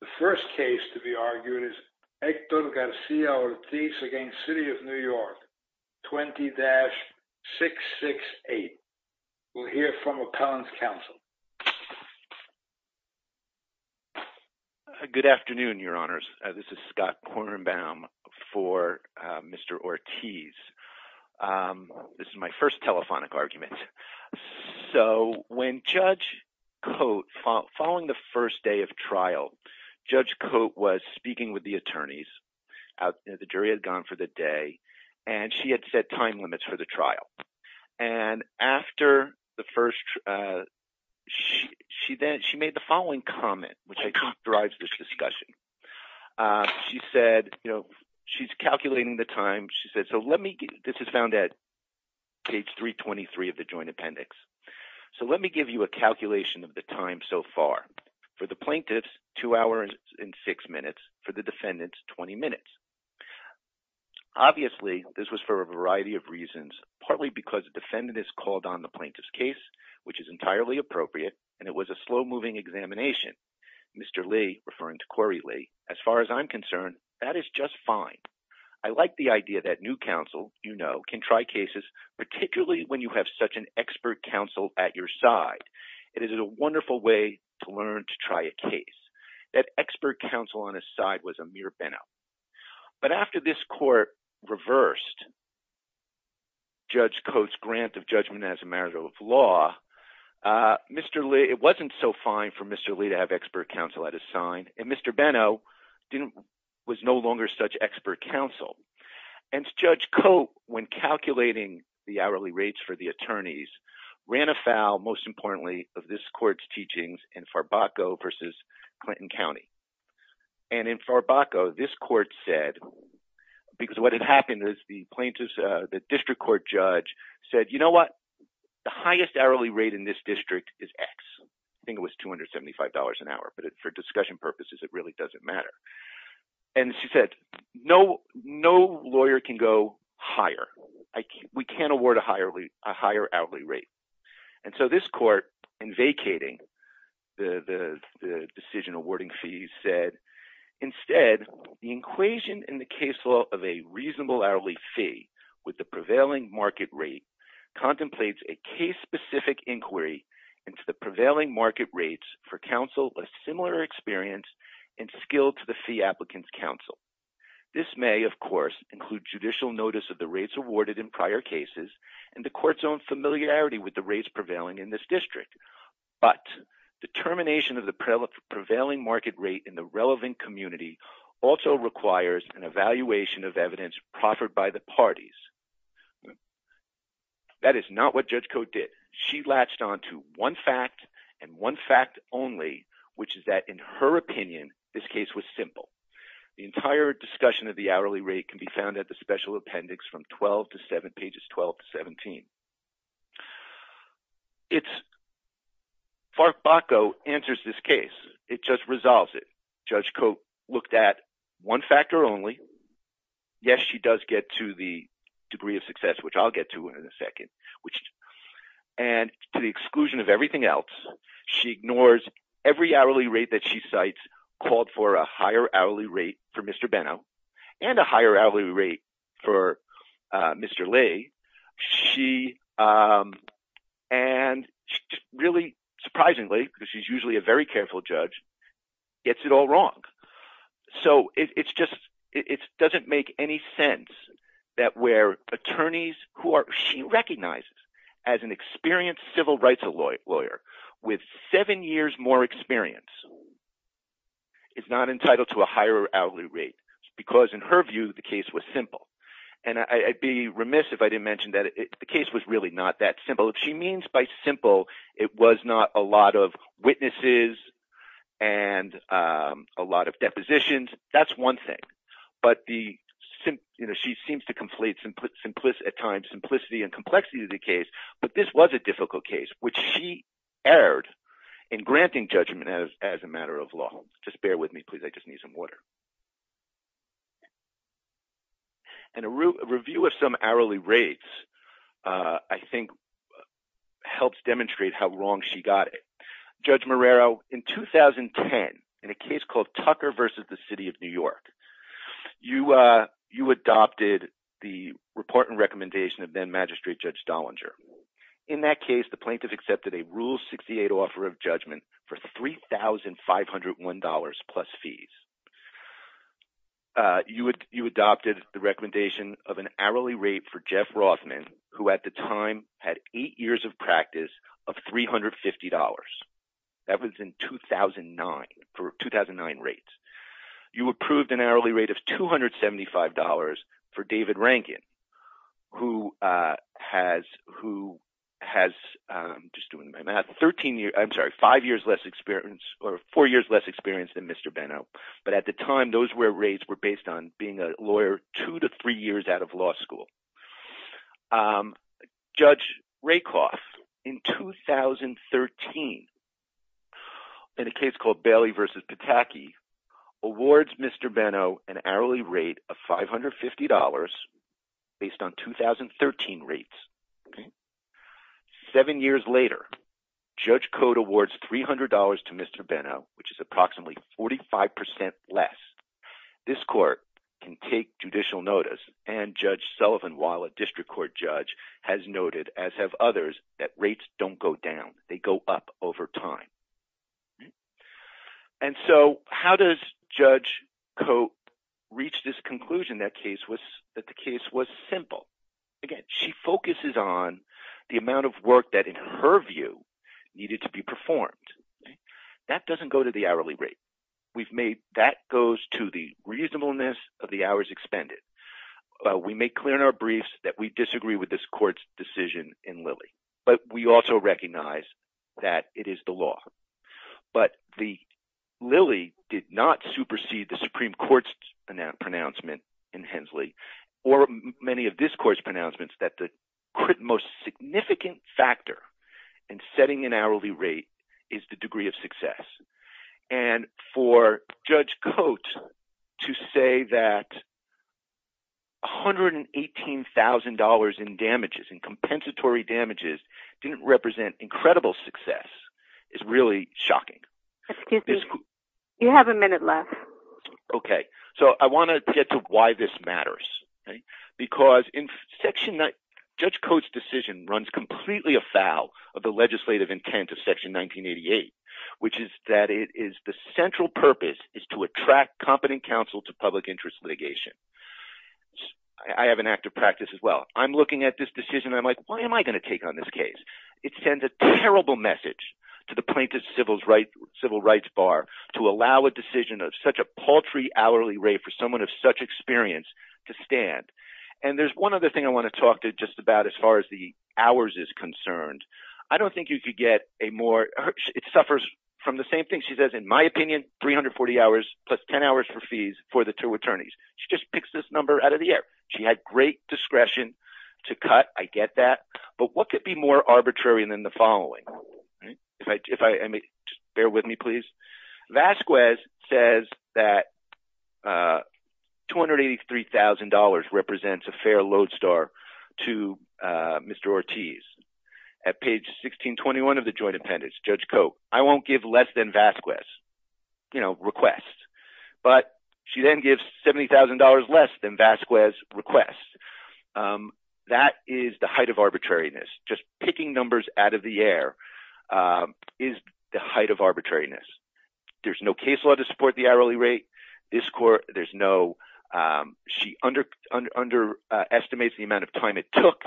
The first case to be argued is Hector Garcia Ortiz v. City of New York, 20-668. We'll hear from Appellant's Counsel. Good afternoon, Your Honors. This is Scott Kornbaum for Mr. Ortiz. This is my first telephonic argument. So when Judge Cote, following the first day of trial, Judge Cote was speaking with the attorneys. The jury had gone for the day, and she had set time limits for the trial. And after the first, she made the following comment, which I think drives this discussion. She said, you know, she's calculating the time. She said, so let me, this is found at page 323 of the Joint Appendix. So let me give you a calculation of the time so far. For the plaintiffs, 2 hours and 6 minutes. For the defendants, 20 minutes. Obviously, this was for a variety of reasons, partly because the defendant has called on the plaintiff's case, which is entirely appropriate, and it was a slow-moving examination. Mr. Lee, referring to Corey Lee, as far as I'm concerned, that is just fine. I like the idea that new counsel, you know, can try cases, particularly when you have such an expert counsel at your side. It is a wonderful way to learn to try a case. That expert counsel on his side was Amir Benow. But after this court reversed Judge Cote's grant of judgment as a matter of law, it wasn't so fine for Mr. Lee to have expert counsel at his side, and Mr. Benow was no longer such expert counsel. And Judge Cote, when calculating the hourly rates for the attorneys, ran afoul, most importantly, of this court's teachings in Farbacco v. Clinton County. And in Farbacco, this court said – because what had happened is the plaintiff's – the district court judge said, you know what, the highest hourly rate in this district is X. I think it was $275 an hour, but for discussion purposes, it really doesn't matter. And she said, no lawyer can go higher. We can't award a higher hourly rate. And so this court, in vacating the decision awarding fees, said, instead, the equation in the case law of a reasonable hourly fee with the prevailing market rate contemplates a case-specific inquiry into the prevailing market rates for counsel with similar experience and skill to the fee applicant's counsel. This may, of course, include judicial notice of the rates awarded in prior cases and the court's own familiarity with the rates prevailing in this district. But the termination of the prevailing market rate in the relevant community also requires an evaluation of evidence proffered by the parties. That is not what Judge Cote did. She latched onto one fact and one fact only, which is that, in her opinion, this case was simple. The entire discussion of the hourly rate can be found at the special appendix from 12 to 7, pages 12 to 17. It's – Farke-Bacco answers this case. It just resolves it. Judge Cote looked at one factor only. Yes, she does get to the degree of success, which I'll get to in a second. And to the exclusion of everything else, she ignores every hourly rate that she cites, called for a higher hourly rate for Mr. Benno and a higher hourly rate for Mr. Lee. She – and really surprisingly, because she's usually a very careful judge, gets it all wrong. So it's just – it doesn't make any sense that where attorneys who are – she recognizes as an experienced civil rights lawyer with seven years more experience is not entitled to a higher hourly rate because, in her view, the case was simple. And I'd be remiss if I didn't mention that the case was really not that simple. If she means by simple, it was not a lot of witnesses and a lot of depositions, that's one thing. But the – she seems to conflate at times simplicity and complexity of the case, but this was a difficult case, which she erred in granting judgment as a matter of law. Just bear with me, please. I just need some water. And a review of some hourly rates, I think, helps demonstrate how wrong she got it. Judge Marrero, in 2010, in a case called Tucker v. The City of New York, you adopted the report and recommendation of then-Magistrate Judge Dollinger. In that case, the plaintiff accepted a Rule 68 offer of judgment for $3,501 plus fees. You adopted the recommendation of an hourly rate for Jeff Rothman, who at the time had eight years of practice, of $350. That was in 2009, for 2009 rates. You approved an hourly rate of $275 for David Rankin, who has – just doing my math – 13 years – I'm sorry, five years less experience or four years less experience than Mr. Benno. But at the time, those were rates were based on being a lawyer two to three years out of law school. Judge Rakoff, in 2013, in a case called Bailey v. Pataki, awards Mr. Benno an hourly rate of $550 based on 2013 rates. Seven years later, Judge Cote awards $300 to Mr. Benno, which is approximately 45% less. This court can take judicial notice, and Judge Sullivan, while a district court judge, has noted, as have others, that rates don't go down. They go up over time. And so how does Judge Cote reach this conclusion that the case was simple? Again, she focuses on the amount of work that, in her view, needed to be performed. That doesn't go to the hourly rate. That goes to the reasonableness of the hours expended. We make clear in our briefs that we disagree with this court's decision in Lilly, but we also recognize that it is the law. But Lilly did not supersede the Supreme Court's pronouncement in Hensley or many of this court's pronouncements that the most significant factor in setting an hourly rate is the degree of success. And for Judge Cote to say that $118,000 in damages, in compensatory damages, didn't represent incredible success is really shocking. Excuse me. You have a minute left. Okay. So I want to get to why this matters. Because in Section – Judge Cote's decision runs completely afoul of the legislative intent of Section 1988, which is that it is the central purpose is to attract competent counsel to public interest litigation. I have an active practice as well. I'm looking at this decision, and I'm like, why am I going to take on this case? It sends a terrible message to the plaintiff's civil rights bar to allow a decision of such a paltry hourly rate for someone of such experience to stand. And there's one other thing I want to talk to just about as far as the hours is concerned. I don't think you could get a more – it suffers from the same thing. She says, in my opinion, 340 hours plus 10 hours for fees for the two attorneys. She just picks this number out of the air. She had great discretion to cut. I get that. But what could be more arbitrary than the following? If I may – just bear with me, please. Vasquez says that $283,000 represents a fair lodestar to Mr. Ortiz. At page 1621 of the joint appendix, Judge Cote, I won't give less than Vasquez's request. But she then gives $70,000 less than Vasquez's request. That is the height of arbitrariness. Just picking numbers out of the air is the height of arbitrariness. There's no case law to support the hourly rate. This court – there's no – she underestimates the amount of time it took.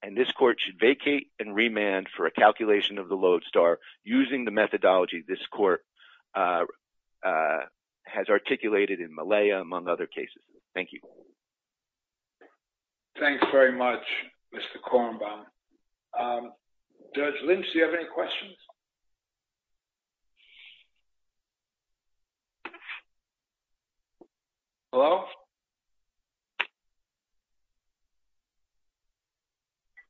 And this court should vacate and remand for a calculation of the lodestar using the methodology this court has articulated in Malaya, among other cases. Thank you. Thanks very much, Mr. Kornbaum. Judge Lynch, do you have any questions? Hello?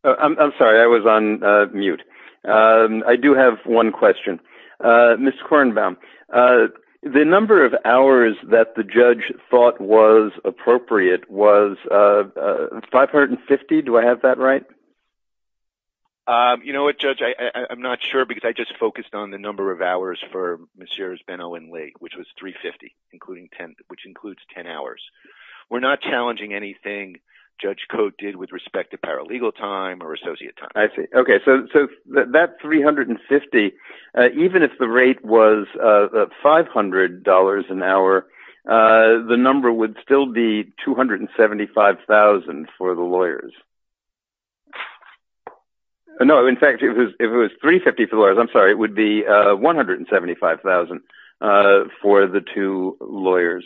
I'm sorry. I was on mute. I do have one question. Mr. Kornbaum, the number of hours that the judge thought was appropriate was 550. Do I have that right? You know what, Judge? I'm not sure because I just focused on the number of hours for Ms. Shera's Ben-Owen Lake, which was 350, which includes 10 hours. We're not challenging anything Judge Cote did with respect to paralegal time or associate time. I see. Okay, so that 350, even if the rate was $500 an hour, the number would still be $275,000 for the lawyers. No, in fact, if it was $350,000 for the lawyers, I'm sorry, it would be $175,000 for the two lawyers.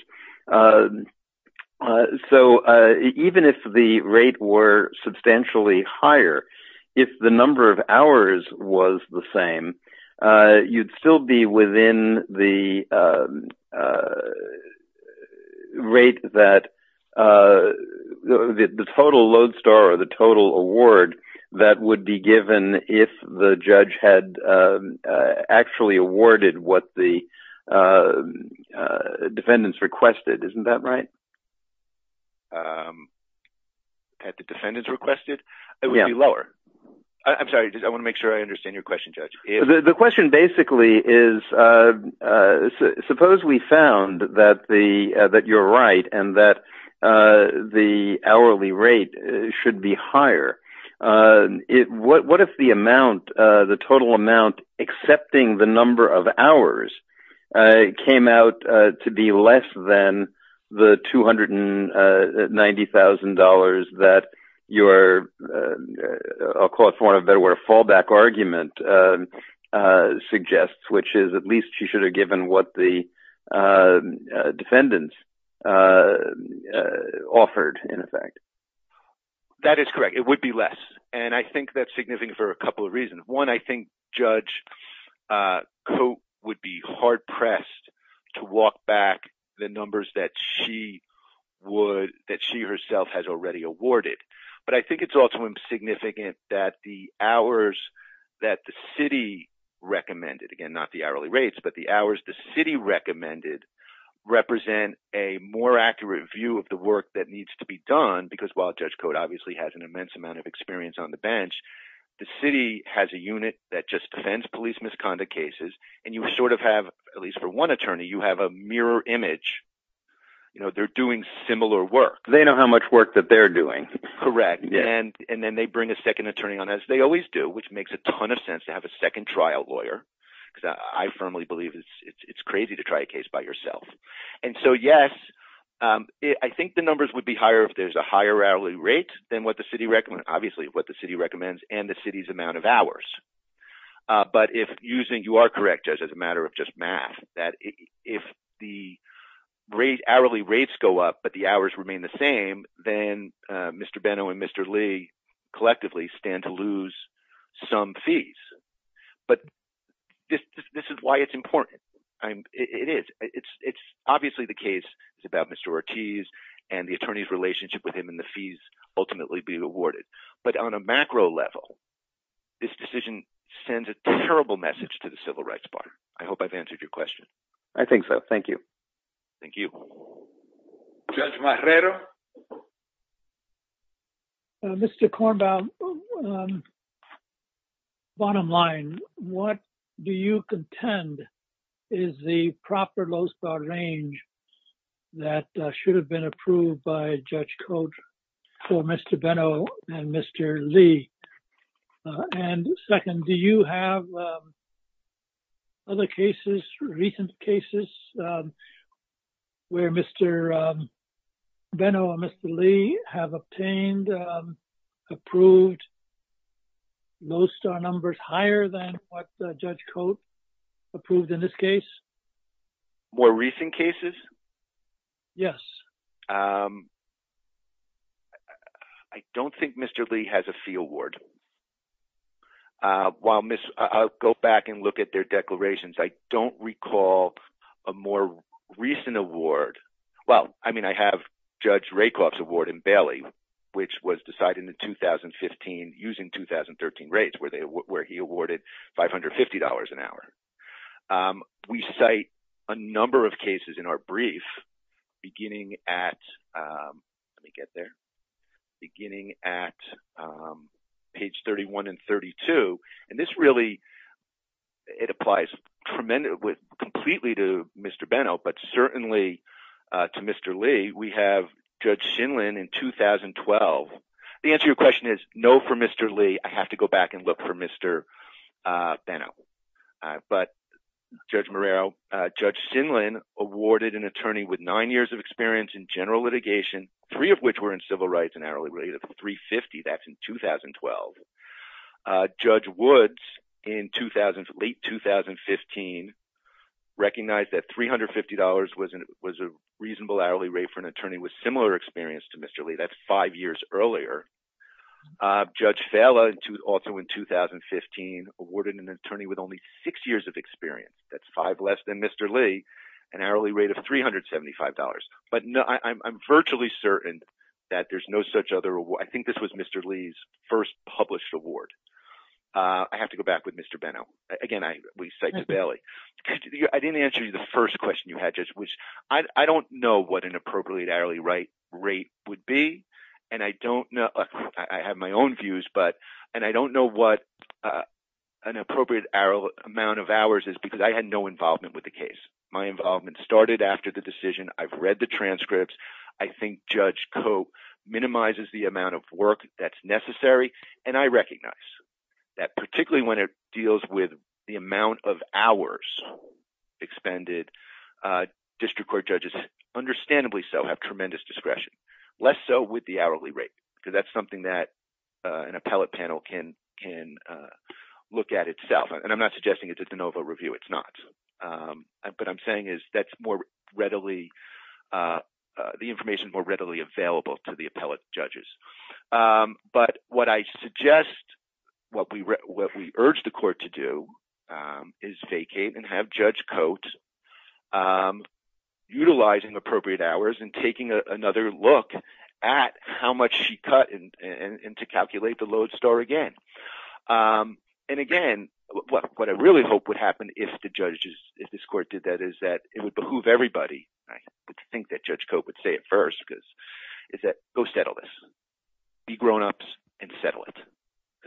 So even if the rate were substantially higher, if the number of hours was the same, you'd still be within the total load star or the total award that would be given if the judge had actually awarded what the defendants requested. Isn't that right? Had the defendants requested? It would be lower. I'm sorry, I want to make sure I understand your question, Judge. The question basically is, suppose we found that you're right and that the hourly rate should be higher. What if the total amount excepting the number of hours came out to be less than the $290,000 that your fallback argument suggests, which is at least you should have given what the defendants offered in effect? That is correct. It would be less. And I think that's significant for a couple of reasons. One, I think Judge Cote would be hard-pressed to walk back the numbers that she herself has already awarded. But I think it's also significant that the hours that the city recommended, again, not the hourly rates, but the hours the city recommended represent a more accurate view of the work that needs to be done. Because while Judge Cote obviously has an immense amount of experience on the bench, the city has a unit that just defends police misconduct cases. And you sort of have, at least for one attorney, you have a mirror image. They're doing similar work. They know how much work that they're doing. Correct. And then they bring a second attorney on, as they always do, which makes a ton of sense to have a second trial lawyer. Because I firmly believe it's crazy to try a case by yourself. And so, yes, I think the numbers would be higher if there's a higher hourly rate than what the city recommends, obviously what the city recommends, and the city's amount of hours. But you are correct, Judge, as a matter of just math, that if the hourly rates go up but the hours remain the same, then Mr. Benno and Mr. Lee collectively stand to lose some fees. But this is why it's important. It is. It's obviously the case is about Mr. Ortiz and the attorney's relationship with him and the fees ultimately being awarded. But on a macro level, this decision sends a terrible message to the Civil Rights Bar. I hope I've answered your question. I think so. Thank you. Thank you. Judge Marrero? Mr. Kornbaum, bottom line, what do you contend is the proper low spot range that should have been approved by Judge Cote for Mr. Benno and Mr. Lee? And second, do you have other cases, recent cases, where Mr. Benno and Mr. Lee have obtained, approved, low star numbers higher than what Judge Cote approved in this case? More recent cases? Yes. I don't think Mr. Lee has a fee award. While I'll go back and look at their declarations, I don't recall a more recent award. Well, I mean, I have Judge Rakoff's award in Bailey, which was decided in 2015 using 2013 rates where he awarded $550 an hour. We cite a number of cases in our brief beginning at, let me get there, beginning at page 31 and 32. And this really, it applies tremendously, completely to Mr. Benno, but certainly to Mr. Lee. We have Judge Shinlin in 2012. The answer to your question is no for Mr. Lee. I have to go back and look for Mr. Benno. But Judge Morrell, Judge Shinlin awarded an attorney with nine years of experience in general litigation, three of which were in civil rights, an hourly rate of $350. That's in 2012. Judge Woods in late 2015 recognized that $350 was a reasonable hourly rate for an attorney with similar experience to Mr. Lee. That's five years earlier. Judge Fala also in 2015 awarded an attorney with only six years of experience. That's five less than Mr. Lee, an hourly rate of $375. But I'm virtually certain that there's no such other award. I think this was Mr. Lee's first published award. I have to go back with Mr. Benno. Again, we cite to Bailey. I didn't answer you the first question you had, Judge Woods. I don't know what an appropriate hourly rate would be. And I don't know. I have my own views. And I don't know what an appropriate amount of hours is because I had no involvement with the case. My involvement started after the decision. I've read the transcripts. I think Judge Cope minimizes the amount of work that's necessary. And I recognize that particularly when it deals with the amount of hours expended, district court judges, understandably so, have tremendous discretion. Less so with the hourly rate because that's something that an appellate panel can look at itself. And I'm not suggesting it's a de novo review. It's not. What I'm saying is that's more readily, the information is more readily available to the appellate judges. But what I suggest, what we urge the court to do is vacate and have Judge Cote utilizing appropriate hours and taking another look at how much she cut and to calculate the load store again. And, again, what I really hope would happen if the judges, if this court did that is that it would behoove everybody. I think that Judge Cote would say at first is that go settle this. Be grownups and settle it.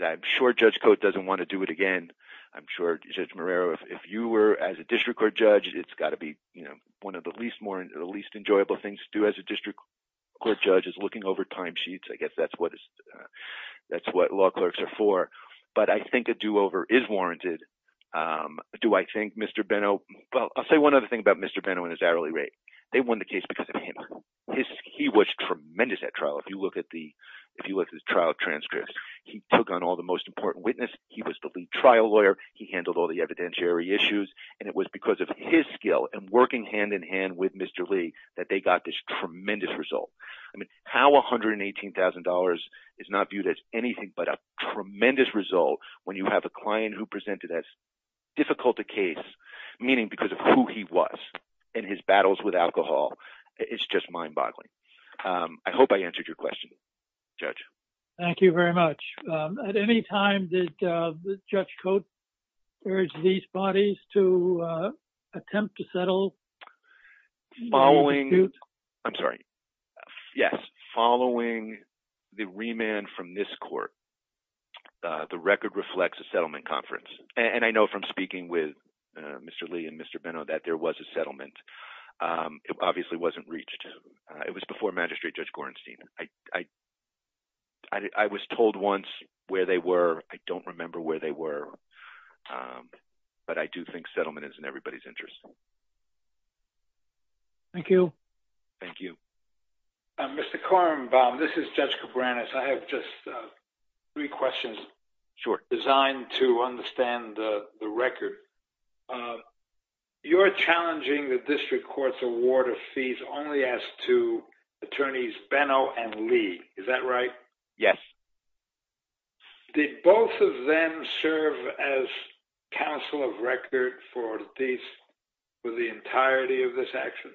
I'm sure Judge Cote doesn't want to do it again. I'm sure Judge Marrero, if you were as a district court judge, it's got to be one of the least enjoyable things to do as a district court judge is looking over time sheets. I guess that's what law clerks are for. But I think a do over is warranted. Do I think Mr. Benno, well, I'll say one other thing about Mr. Benno and his hourly rate. They won the case because of him. He was tremendous at trial. If you look at the, if you look at his trial transcripts, he took on all the most important witnesses. He was the lead trial lawyer. He handled all the evidentiary issues. And it was because of his skill and working hand in hand with Mr. Lee that they got this tremendous result. I mean, how $118,000 is not viewed as anything but a tremendous result when you have a client who presented as difficult a case, meaning because of who he was and his battles with alcohol. It's just mind boggling. I hope I answered your question, Judge. Thank you very much. At any time that Judge Coates urged these bodies to attempt to settle. Following. I'm sorry. Yes. Following the remand from this court. The record reflects a settlement conference. And I know from speaking with Mr. Lee and Mr. Benno that there was a settlement. It obviously wasn't reached. It was before Magistrate Judge Gorenstein. I was told once where they were. I don't remember where they were. But I do think settlement is in everybody's interest. Thank you. Thank you. Mr. Kornbaum, this is Judge Cabranes. I have just three questions. Sure. Designed to understand the record. You are challenging the district court's award of fees only as to attorneys Benno and Lee. Is that right? Yes. Did both of them serve as counsel of record for these for the entirety of this action?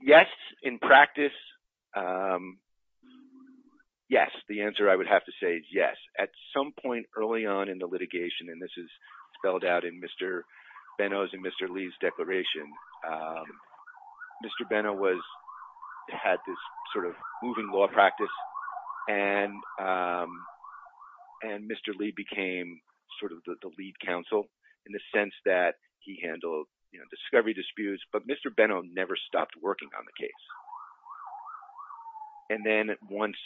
Yes. In practice. Yes. The answer I would have to say is yes. At some point early on in the litigation. And this is spelled out in Mr. Benno's and Mr. Lee's declaration. Mr. Benno had this sort of moving law practice. And Mr. Lee became sort of the lead counsel in the sense that he handled discovery disputes. But Mr. Benno never stopped working on the case. And then once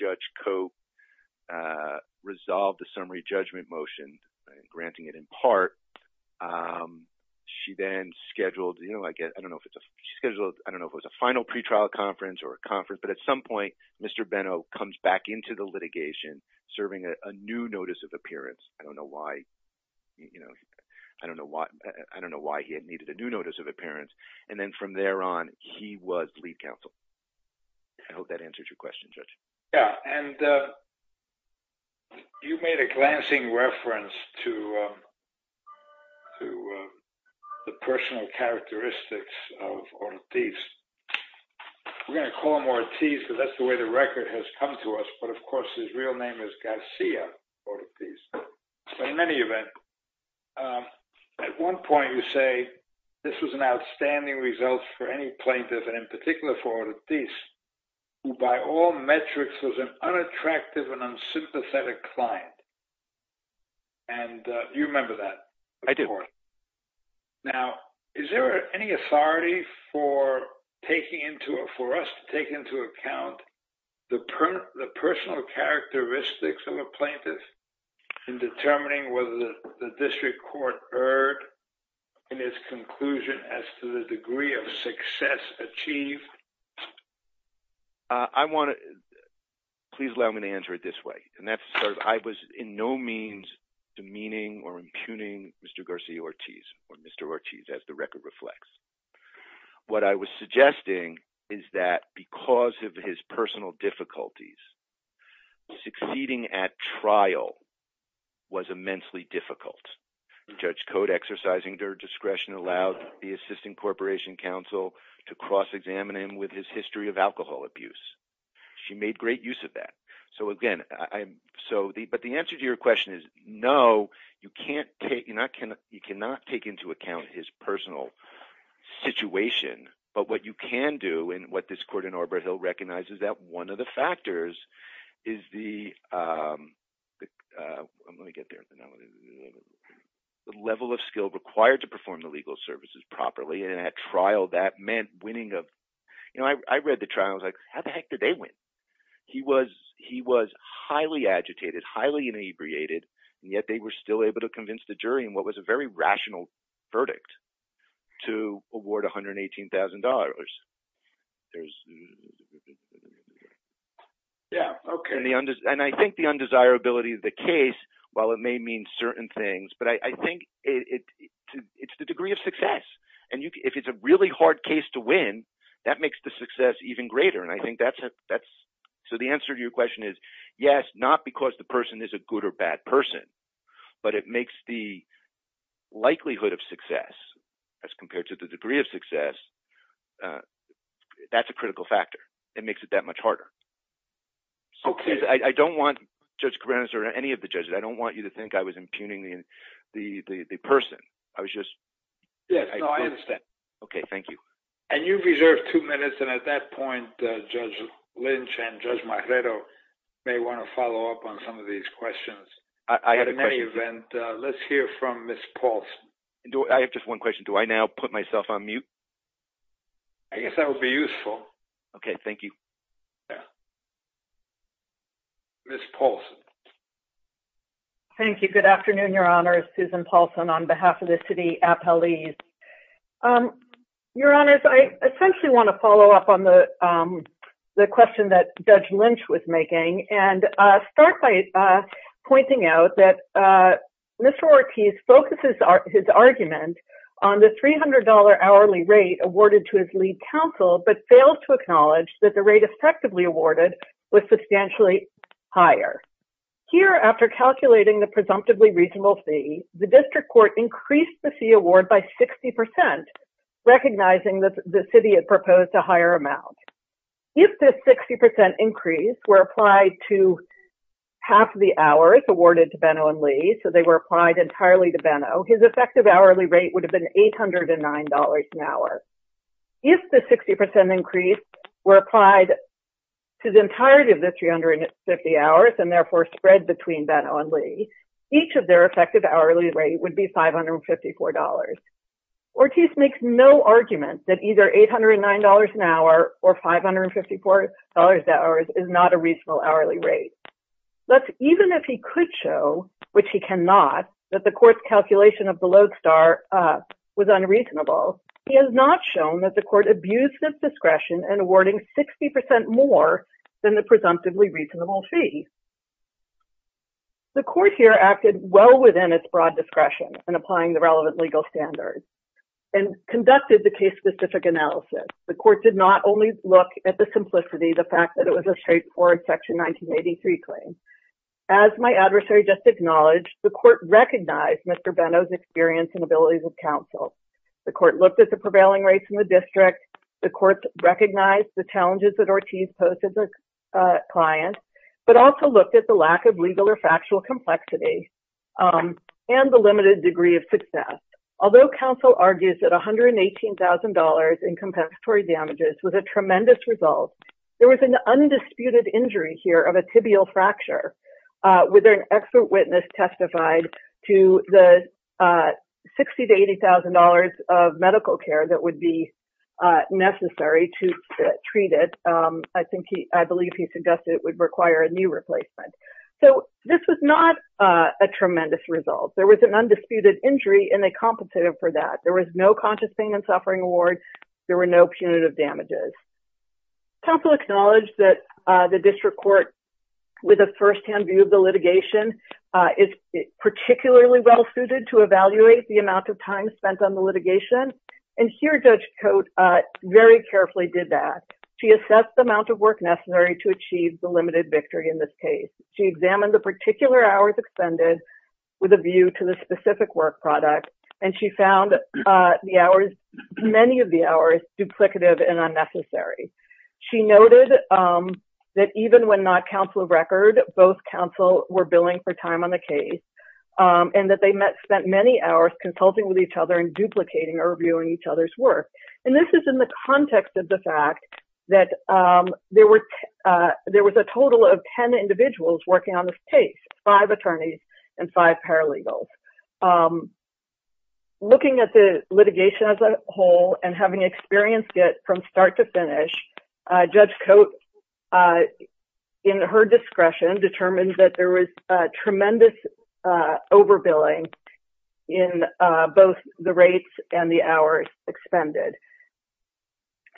Judge Cope resolved the summary judgment motion, granting it in part, she then scheduled, I don't know if it was a final pretrial conference or a conference. But at some point, Mr. Benno comes back into the litigation serving a new notice of appearance. I don't know why. I don't know why he needed a new notice of appearance. And then from there on, he was lead counsel. I hope that answers your question, Judge. Yeah. And you made a glancing reference to the personal characteristics of Ortiz. We're going to call him Ortiz because that's the way the record has come to us. But, of course, his real name is Garcia Ortiz. In any event, at one point you say this was an outstanding result for any plaintiff, and in particular for Ortiz, who by all metrics was an unattractive and unsympathetic client. And you remember that. I do. Now, is there any authority for us to take into account the personal characteristics of a plaintiff in determining whether the district court erred in its conclusion as to the degree of success achieved? Please allow me to answer it this way. I was in no means demeaning or impugning Mr. Garcia Ortiz or Mr. Ortiz, as the record reflects. What I was suggesting is that because of his personal difficulties, succeeding at trial was immensely difficult. Judge Code exercising her discretion allowed the Assistant Corporation Counsel to cross-examine him with his history of alcohol abuse. She made great use of that. But the answer to your question is, no, you cannot take into account his personal situation. But what you can do, and what this court in Arbor Hill recognizes, is that one of the factors is the level of skill required to perform the legal services properly. And at trial, that meant winning. I read the trial and was like, how the heck did they win? He was highly agitated, highly inebriated, and yet they were still able to convince the jury in what was a very rational verdict to award $118,000. And I think the undesirability of the case, while it may mean certain things, but I think it's the degree of success. And if it's a really hard case to win, that makes the success even greater. And I think that's – so the answer to your question is, yes, not because the person is a good or bad person, but it makes the likelihood of success, as compared to the degree of success, that's a critical factor. It makes it that much harder. Okay. I don't want – Judge Cabanis or any of the judges, I don't want you to think I was impugning the person. I was just – Yes, no, I understand. Okay. Thank you. And you've reserved two minutes, and at that point, Judge Lynch and Judge Marredo may want to follow up on some of these questions. I had a question. At any event, let's hear from Ms. Paulson. I have just one question. Do I now put myself on mute? I guess that would be useful. Okay. Thank you. Ms. Paulson. Thank you. Good afternoon, Your Honors. Susan Paulson on behalf of the city appellees. Your Honors, I essentially want to follow up on the question that Judge Lynch was making and start by pointing out that Mr. Ortiz focuses his argument on the $300 hourly rate awarded to his lead counsel, but failed to acknowledge that the rate effectively awarded was substantially higher. Here, after calculating the presumptively reasonable fee, the district court increased the fee award by 60%, recognizing that the city had proposed a higher amount. If this 60% increase were applied to half the hours awarded to Benno and Lee, so they were applied entirely to Benno, his effective hourly rate would have been $809 an hour. If the 60% increase were applied to the entirety of the 350 hours and, therefore, spread between Benno and Lee, each of their effective hourly rate would be $554. Ortiz makes no argument that either $809 an hour or $554 an hour is not a reasonable hourly rate. Thus, even if he could show, which he cannot, that the court's calculation of the lodestar was unreasonable, he has not shown that the court abused its discretion in awarding 60% more than the presumptively reasonable fee. The court here acted well within its broad discretion in applying the relevant legal standards and conducted the case-specific analysis. The court did not only look at the simplicity, the fact that it was a straightforward Section 1983 claim. As my adversary just acknowledged, the court recognized Mr. Benno's experience and abilities with counsel. The court looked at the prevailing rates in the district. The court recognized the challenges that Ortiz posed as a client, but also looked at the lack of legal or factual complexity and the limited degree of success. Although counsel argues that $118,000 in compensatory damages was a tremendous result, there was an undisputed injury here of a tibial fracture, with an expert witness testified to the $60,000 to $80,000 of medical care that would be necessary to treat it. I believe he suggested it would require a new replacement. So this was not a tremendous result. There was an undisputed injury, and they compensated for that. There was no conscious pain and suffering award. There were no punitive damages. Counsel acknowledged that the district court, with a firsthand view of the litigation, is particularly well suited to evaluate the amount of time spent on the litigation. And here Judge Cote very carefully did that. She assessed the amount of work necessary to achieve the limited victory in this case. She examined the particular hours expended with a view to the specific work product, and she found many of the hours duplicative and unnecessary. She noted that even when not counsel of record, both counsel were billing for time on the case, and that they spent many hours consulting with each other and duplicating or reviewing each other's work. And this is in the context of the fact that there was a total of 10 individuals working on this case, five attorneys and five paralegals. Looking at the litigation as a whole and having experienced it from start to finish, Judge Cote, in her discretion, determined that there was tremendous overbilling in both the rates and the hours expended.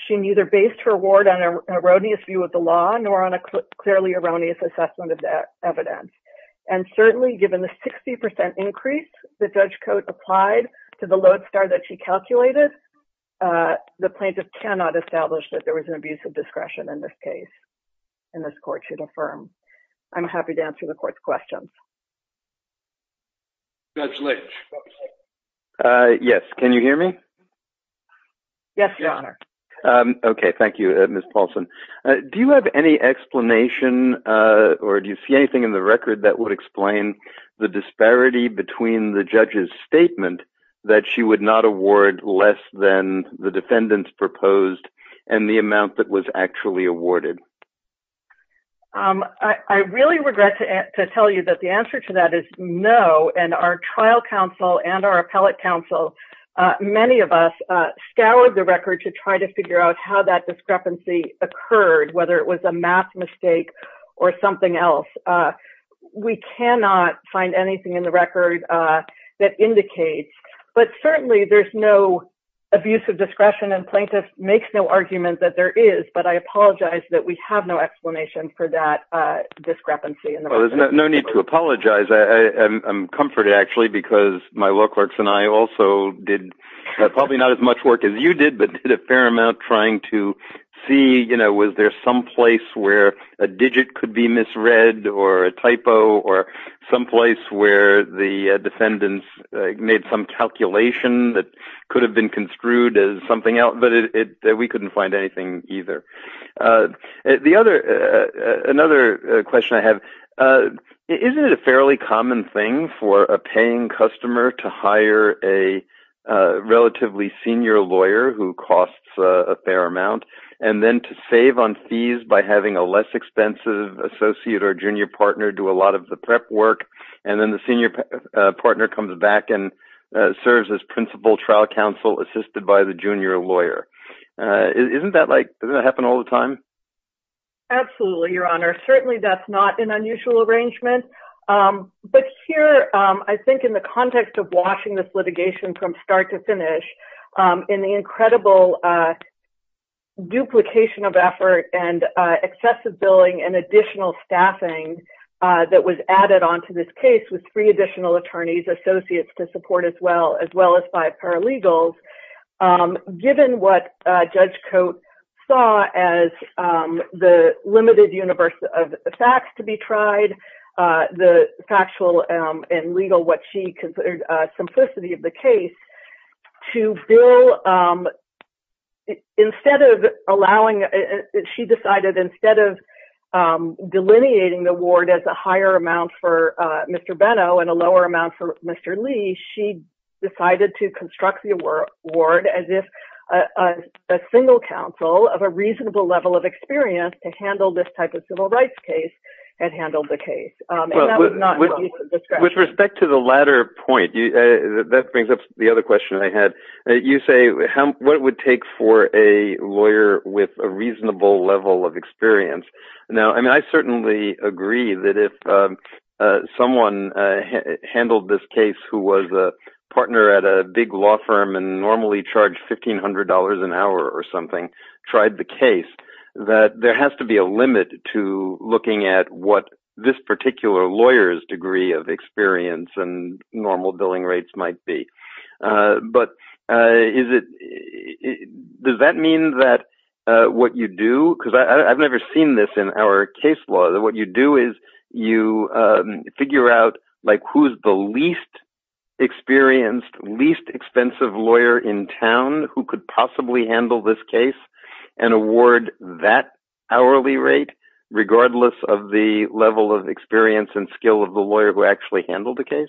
She neither based her award on an erroneous view of the law nor on a clearly erroneous assessment of the evidence. And certainly, given the 60% increase that Judge Cote applied to the load star that she calculated, the plaintiff cannot establish that there was an abuse of discretion in this case. And this court should affirm. I'm happy to answer the court's questions. Judge Lynch. Yes, can you hear me? Yes, Your Honor. Okay, thank you, Ms. Paulson. Do you have any explanation or do you see anything in the record that would explain the disparity between the judge's statement that she would not award less than the defendants proposed and the amount that was actually awarded? I really regret to tell you that the answer to that is no, and our trial counsel and our appellate counsel, many of us scoured the record to try to figure out how that discrepancy occurred, whether it was a math mistake or something else. We cannot find anything in the record that indicates, but certainly there's no abuse of discretion and plaintiff makes no argument that there is, but I apologize that we have no explanation for that discrepancy. Well, there's no need to apologize. I'm comforted, actually, because my law clerks and I also did probably not as much work as you did, but did a fair amount trying to see, you know, was there some place where a digit could be misread or a typo or some place where the defendants made some calculation that could have been construed as something else, but we couldn't find anything either. Another question I have, isn't it a fairly common thing for a paying customer to hire a relatively senior lawyer who costs a fair amount and then to save on fees by having a less expensive associate or junior partner do a lot of the prep work and then the senior partner comes back and serves as principal trial counsel assisted by the junior lawyer? Isn't that like, does that happen all the time? Absolutely, Your Honor. I'm going to go back to the question about the fact that Judge Coates saw as the limited universe of facts to be tried, the factual and legal, what she considered simplicity of the case, to bill, instead of allowing, she decided instead of delineating the award as a higher amount for Mr. Benno and a lower amount for Mr. Lee, she decided to construct the award as if a single counsel of a reasonable level of experience to handle this type of civil rights case had handled the case. With respect to the latter point, that brings up the other question I had. You say, what would it take for a lawyer with a reasonable level of experience? I certainly agree that if someone handled this case who was a partner at a big law firm and normally charged $1,500 an hour or something, tried the case, that there has to be a limit to looking at what this particular lawyer's degree of experience and normal billing rates might be. Does that mean that what you do, because I've never seen this in our case law, that what you do is you figure out who's the least experienced, least expensive lawyer in town who could possibly handle this case and award that hourly rate, regardless of the level of experience and skill of the lawyer who actually handled the case?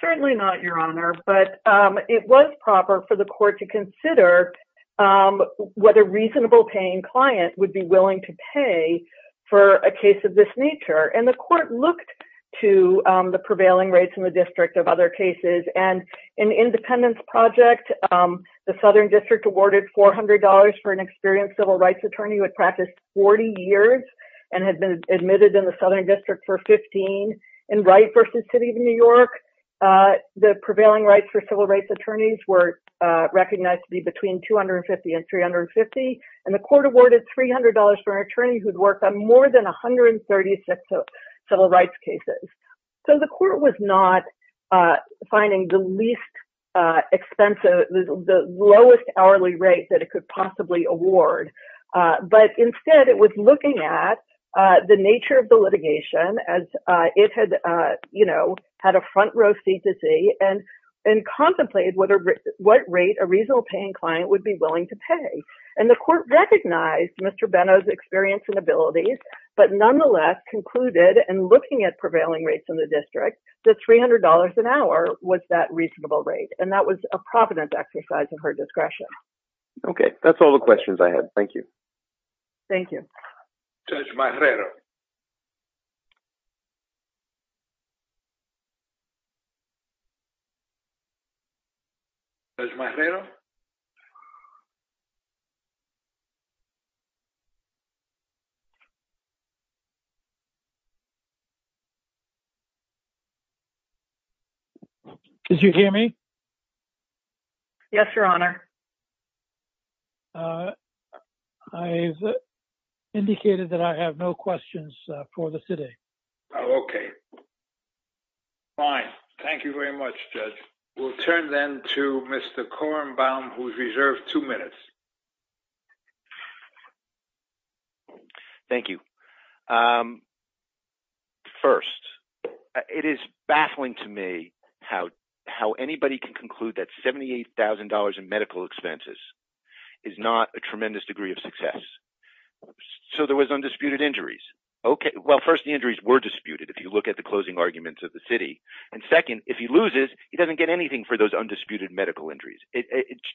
Certainly not, Your Honor, but it was proper for the court to consider what a reasonable paying client would be willing to pay for a case of this nature. The court looked to the prevailing rates in the district of other cases. In Independence Project, the Southern District awarded $400 for an experienced civil rights attorney who had practiced 40 years and had been admitted in the Southern District for 15. In Wright v. City of New York, the prevailing rates for civil rights attorneys were recognized to be between $250 and $350, and the court awarded $300 for an attorney who had worked on more than 136 civil rights cases. So the court was not finding the lowest hourly rate that it could possibly award, but instead it was looking at the nature of the litigation as it had a front row seat to see and contemplated what rate a reasonable paying client would be willing to pay. And the court recognized Mr. Benno's experience and abilities, but nonetheless concluded, in looking at prevailing rates in the district, that $300 an hour was that reasonable rate, and that was a provident exercise in her discretion. Okay, that's all the questions I have. Thank you. Thank you. Judge Marrero? Did you hear me? Yes, Your Honor. I've indicated that I have no questions for the city. Okay. Fine. Thank you very much, Judge. We'll turn then to Mr. Korenbaum, who's reserved two minutes. Thank you. First, it is baffling to me how anybody can conclude that $78,000 in medical expenses is not a tremendous degree of success. So there was undisputed injuries. Well, first, the injuries were disputed, if you look at the closing arguments of the city. And second, if he loses, he doesn't get anything for those undisputed medical injuries.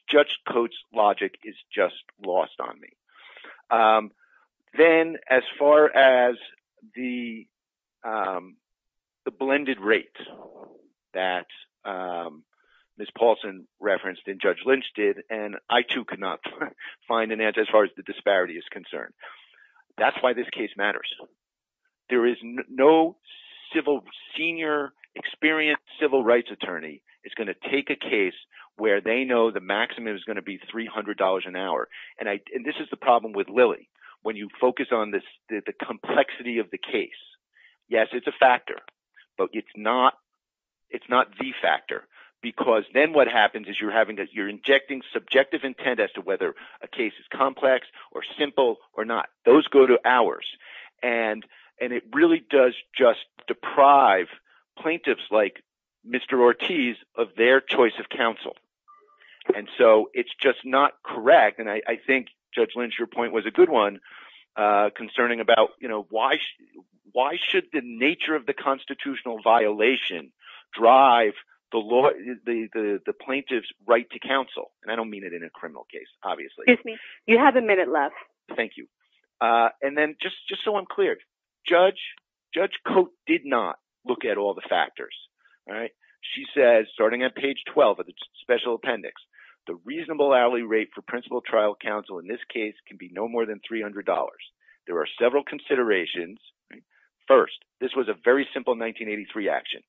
Judge Coates' logic is just lost on me. Then, as far as the blended rates that Ms. Paulson referenced and Judge Lynch did, and I, too, could not find an answer as far as the disparity is concerned. That's why this case matters. There is no senior, experienced civil rights attorney is going to take a case where they know the maximum is going to be $300 an hour. And this is the problem with Lilly. When you focus on the complexity of the case, yes, it's a factor, but it's not the factor. Because then what happens is you're injecting subjective intent as to whether a case is complex or simple or not. Those go to hours. And it really does just deprive plaintiffs like Mr. Ortiz of their choice of counsel. And so it's just not correct. And I think, Judge Lynch, your point was a good one concerning about why should the nature of the constitutional violation drive the plaintiff's right to counsel? And I don't mean it in a criminal case, obviously. Excuse me. You have a minute left. Thank you. And then, just so I'm clear, Judge Coates did not look at all the factors. She says, starting at page 12 of the special appendix, the reasonable hourly rate for principal trial counsel in this case can be no more than $300. There are several considerations. First, this was a very simple 1983 action.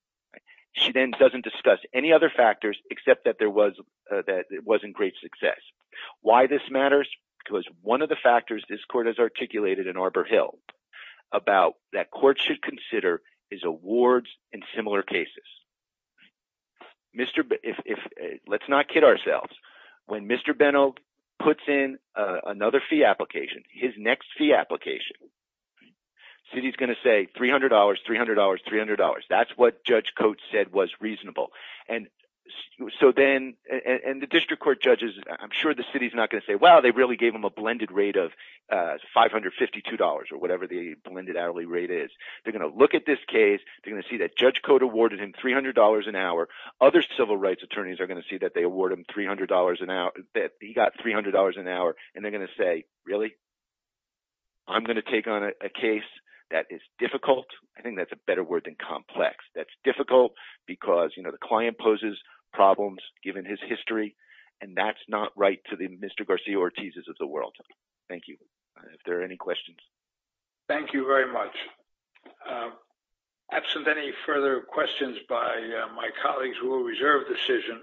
She then doesn't discuss any other factors except that it wasn't great success. Why this matters? Because one of the factors this court has articulated in Arbor Hill about that court should consider is awards in similar cases. Let's not kid ourselves. When Mr. Benno puts in another fee application, his next fee application, city's going to say $300, $300, $300. That's what Judge Coates said was reasonable. And the district court judges, I'm sure the city's not going to say, well, they really gave him a blended rate of $552 or whatever the blended hourly rate is. They're going to look at this case. They're going to see that Judge Coates awarded him $300 an hour. Other civil rights attorneys are going to see that they award him $300 an hour, that he got $300 an hour. And they're going to say, really? I'm going to take on a case that is difficult. I think that's a better word than complex. That's difficult because, you know, the client poses problems given his history, and that's not right to the Mr. Garcia-Ortiz's of the world. Thank you. If there are any questions. Thank you very much. Absent any further questions by my colleagues, we will reserve the decision.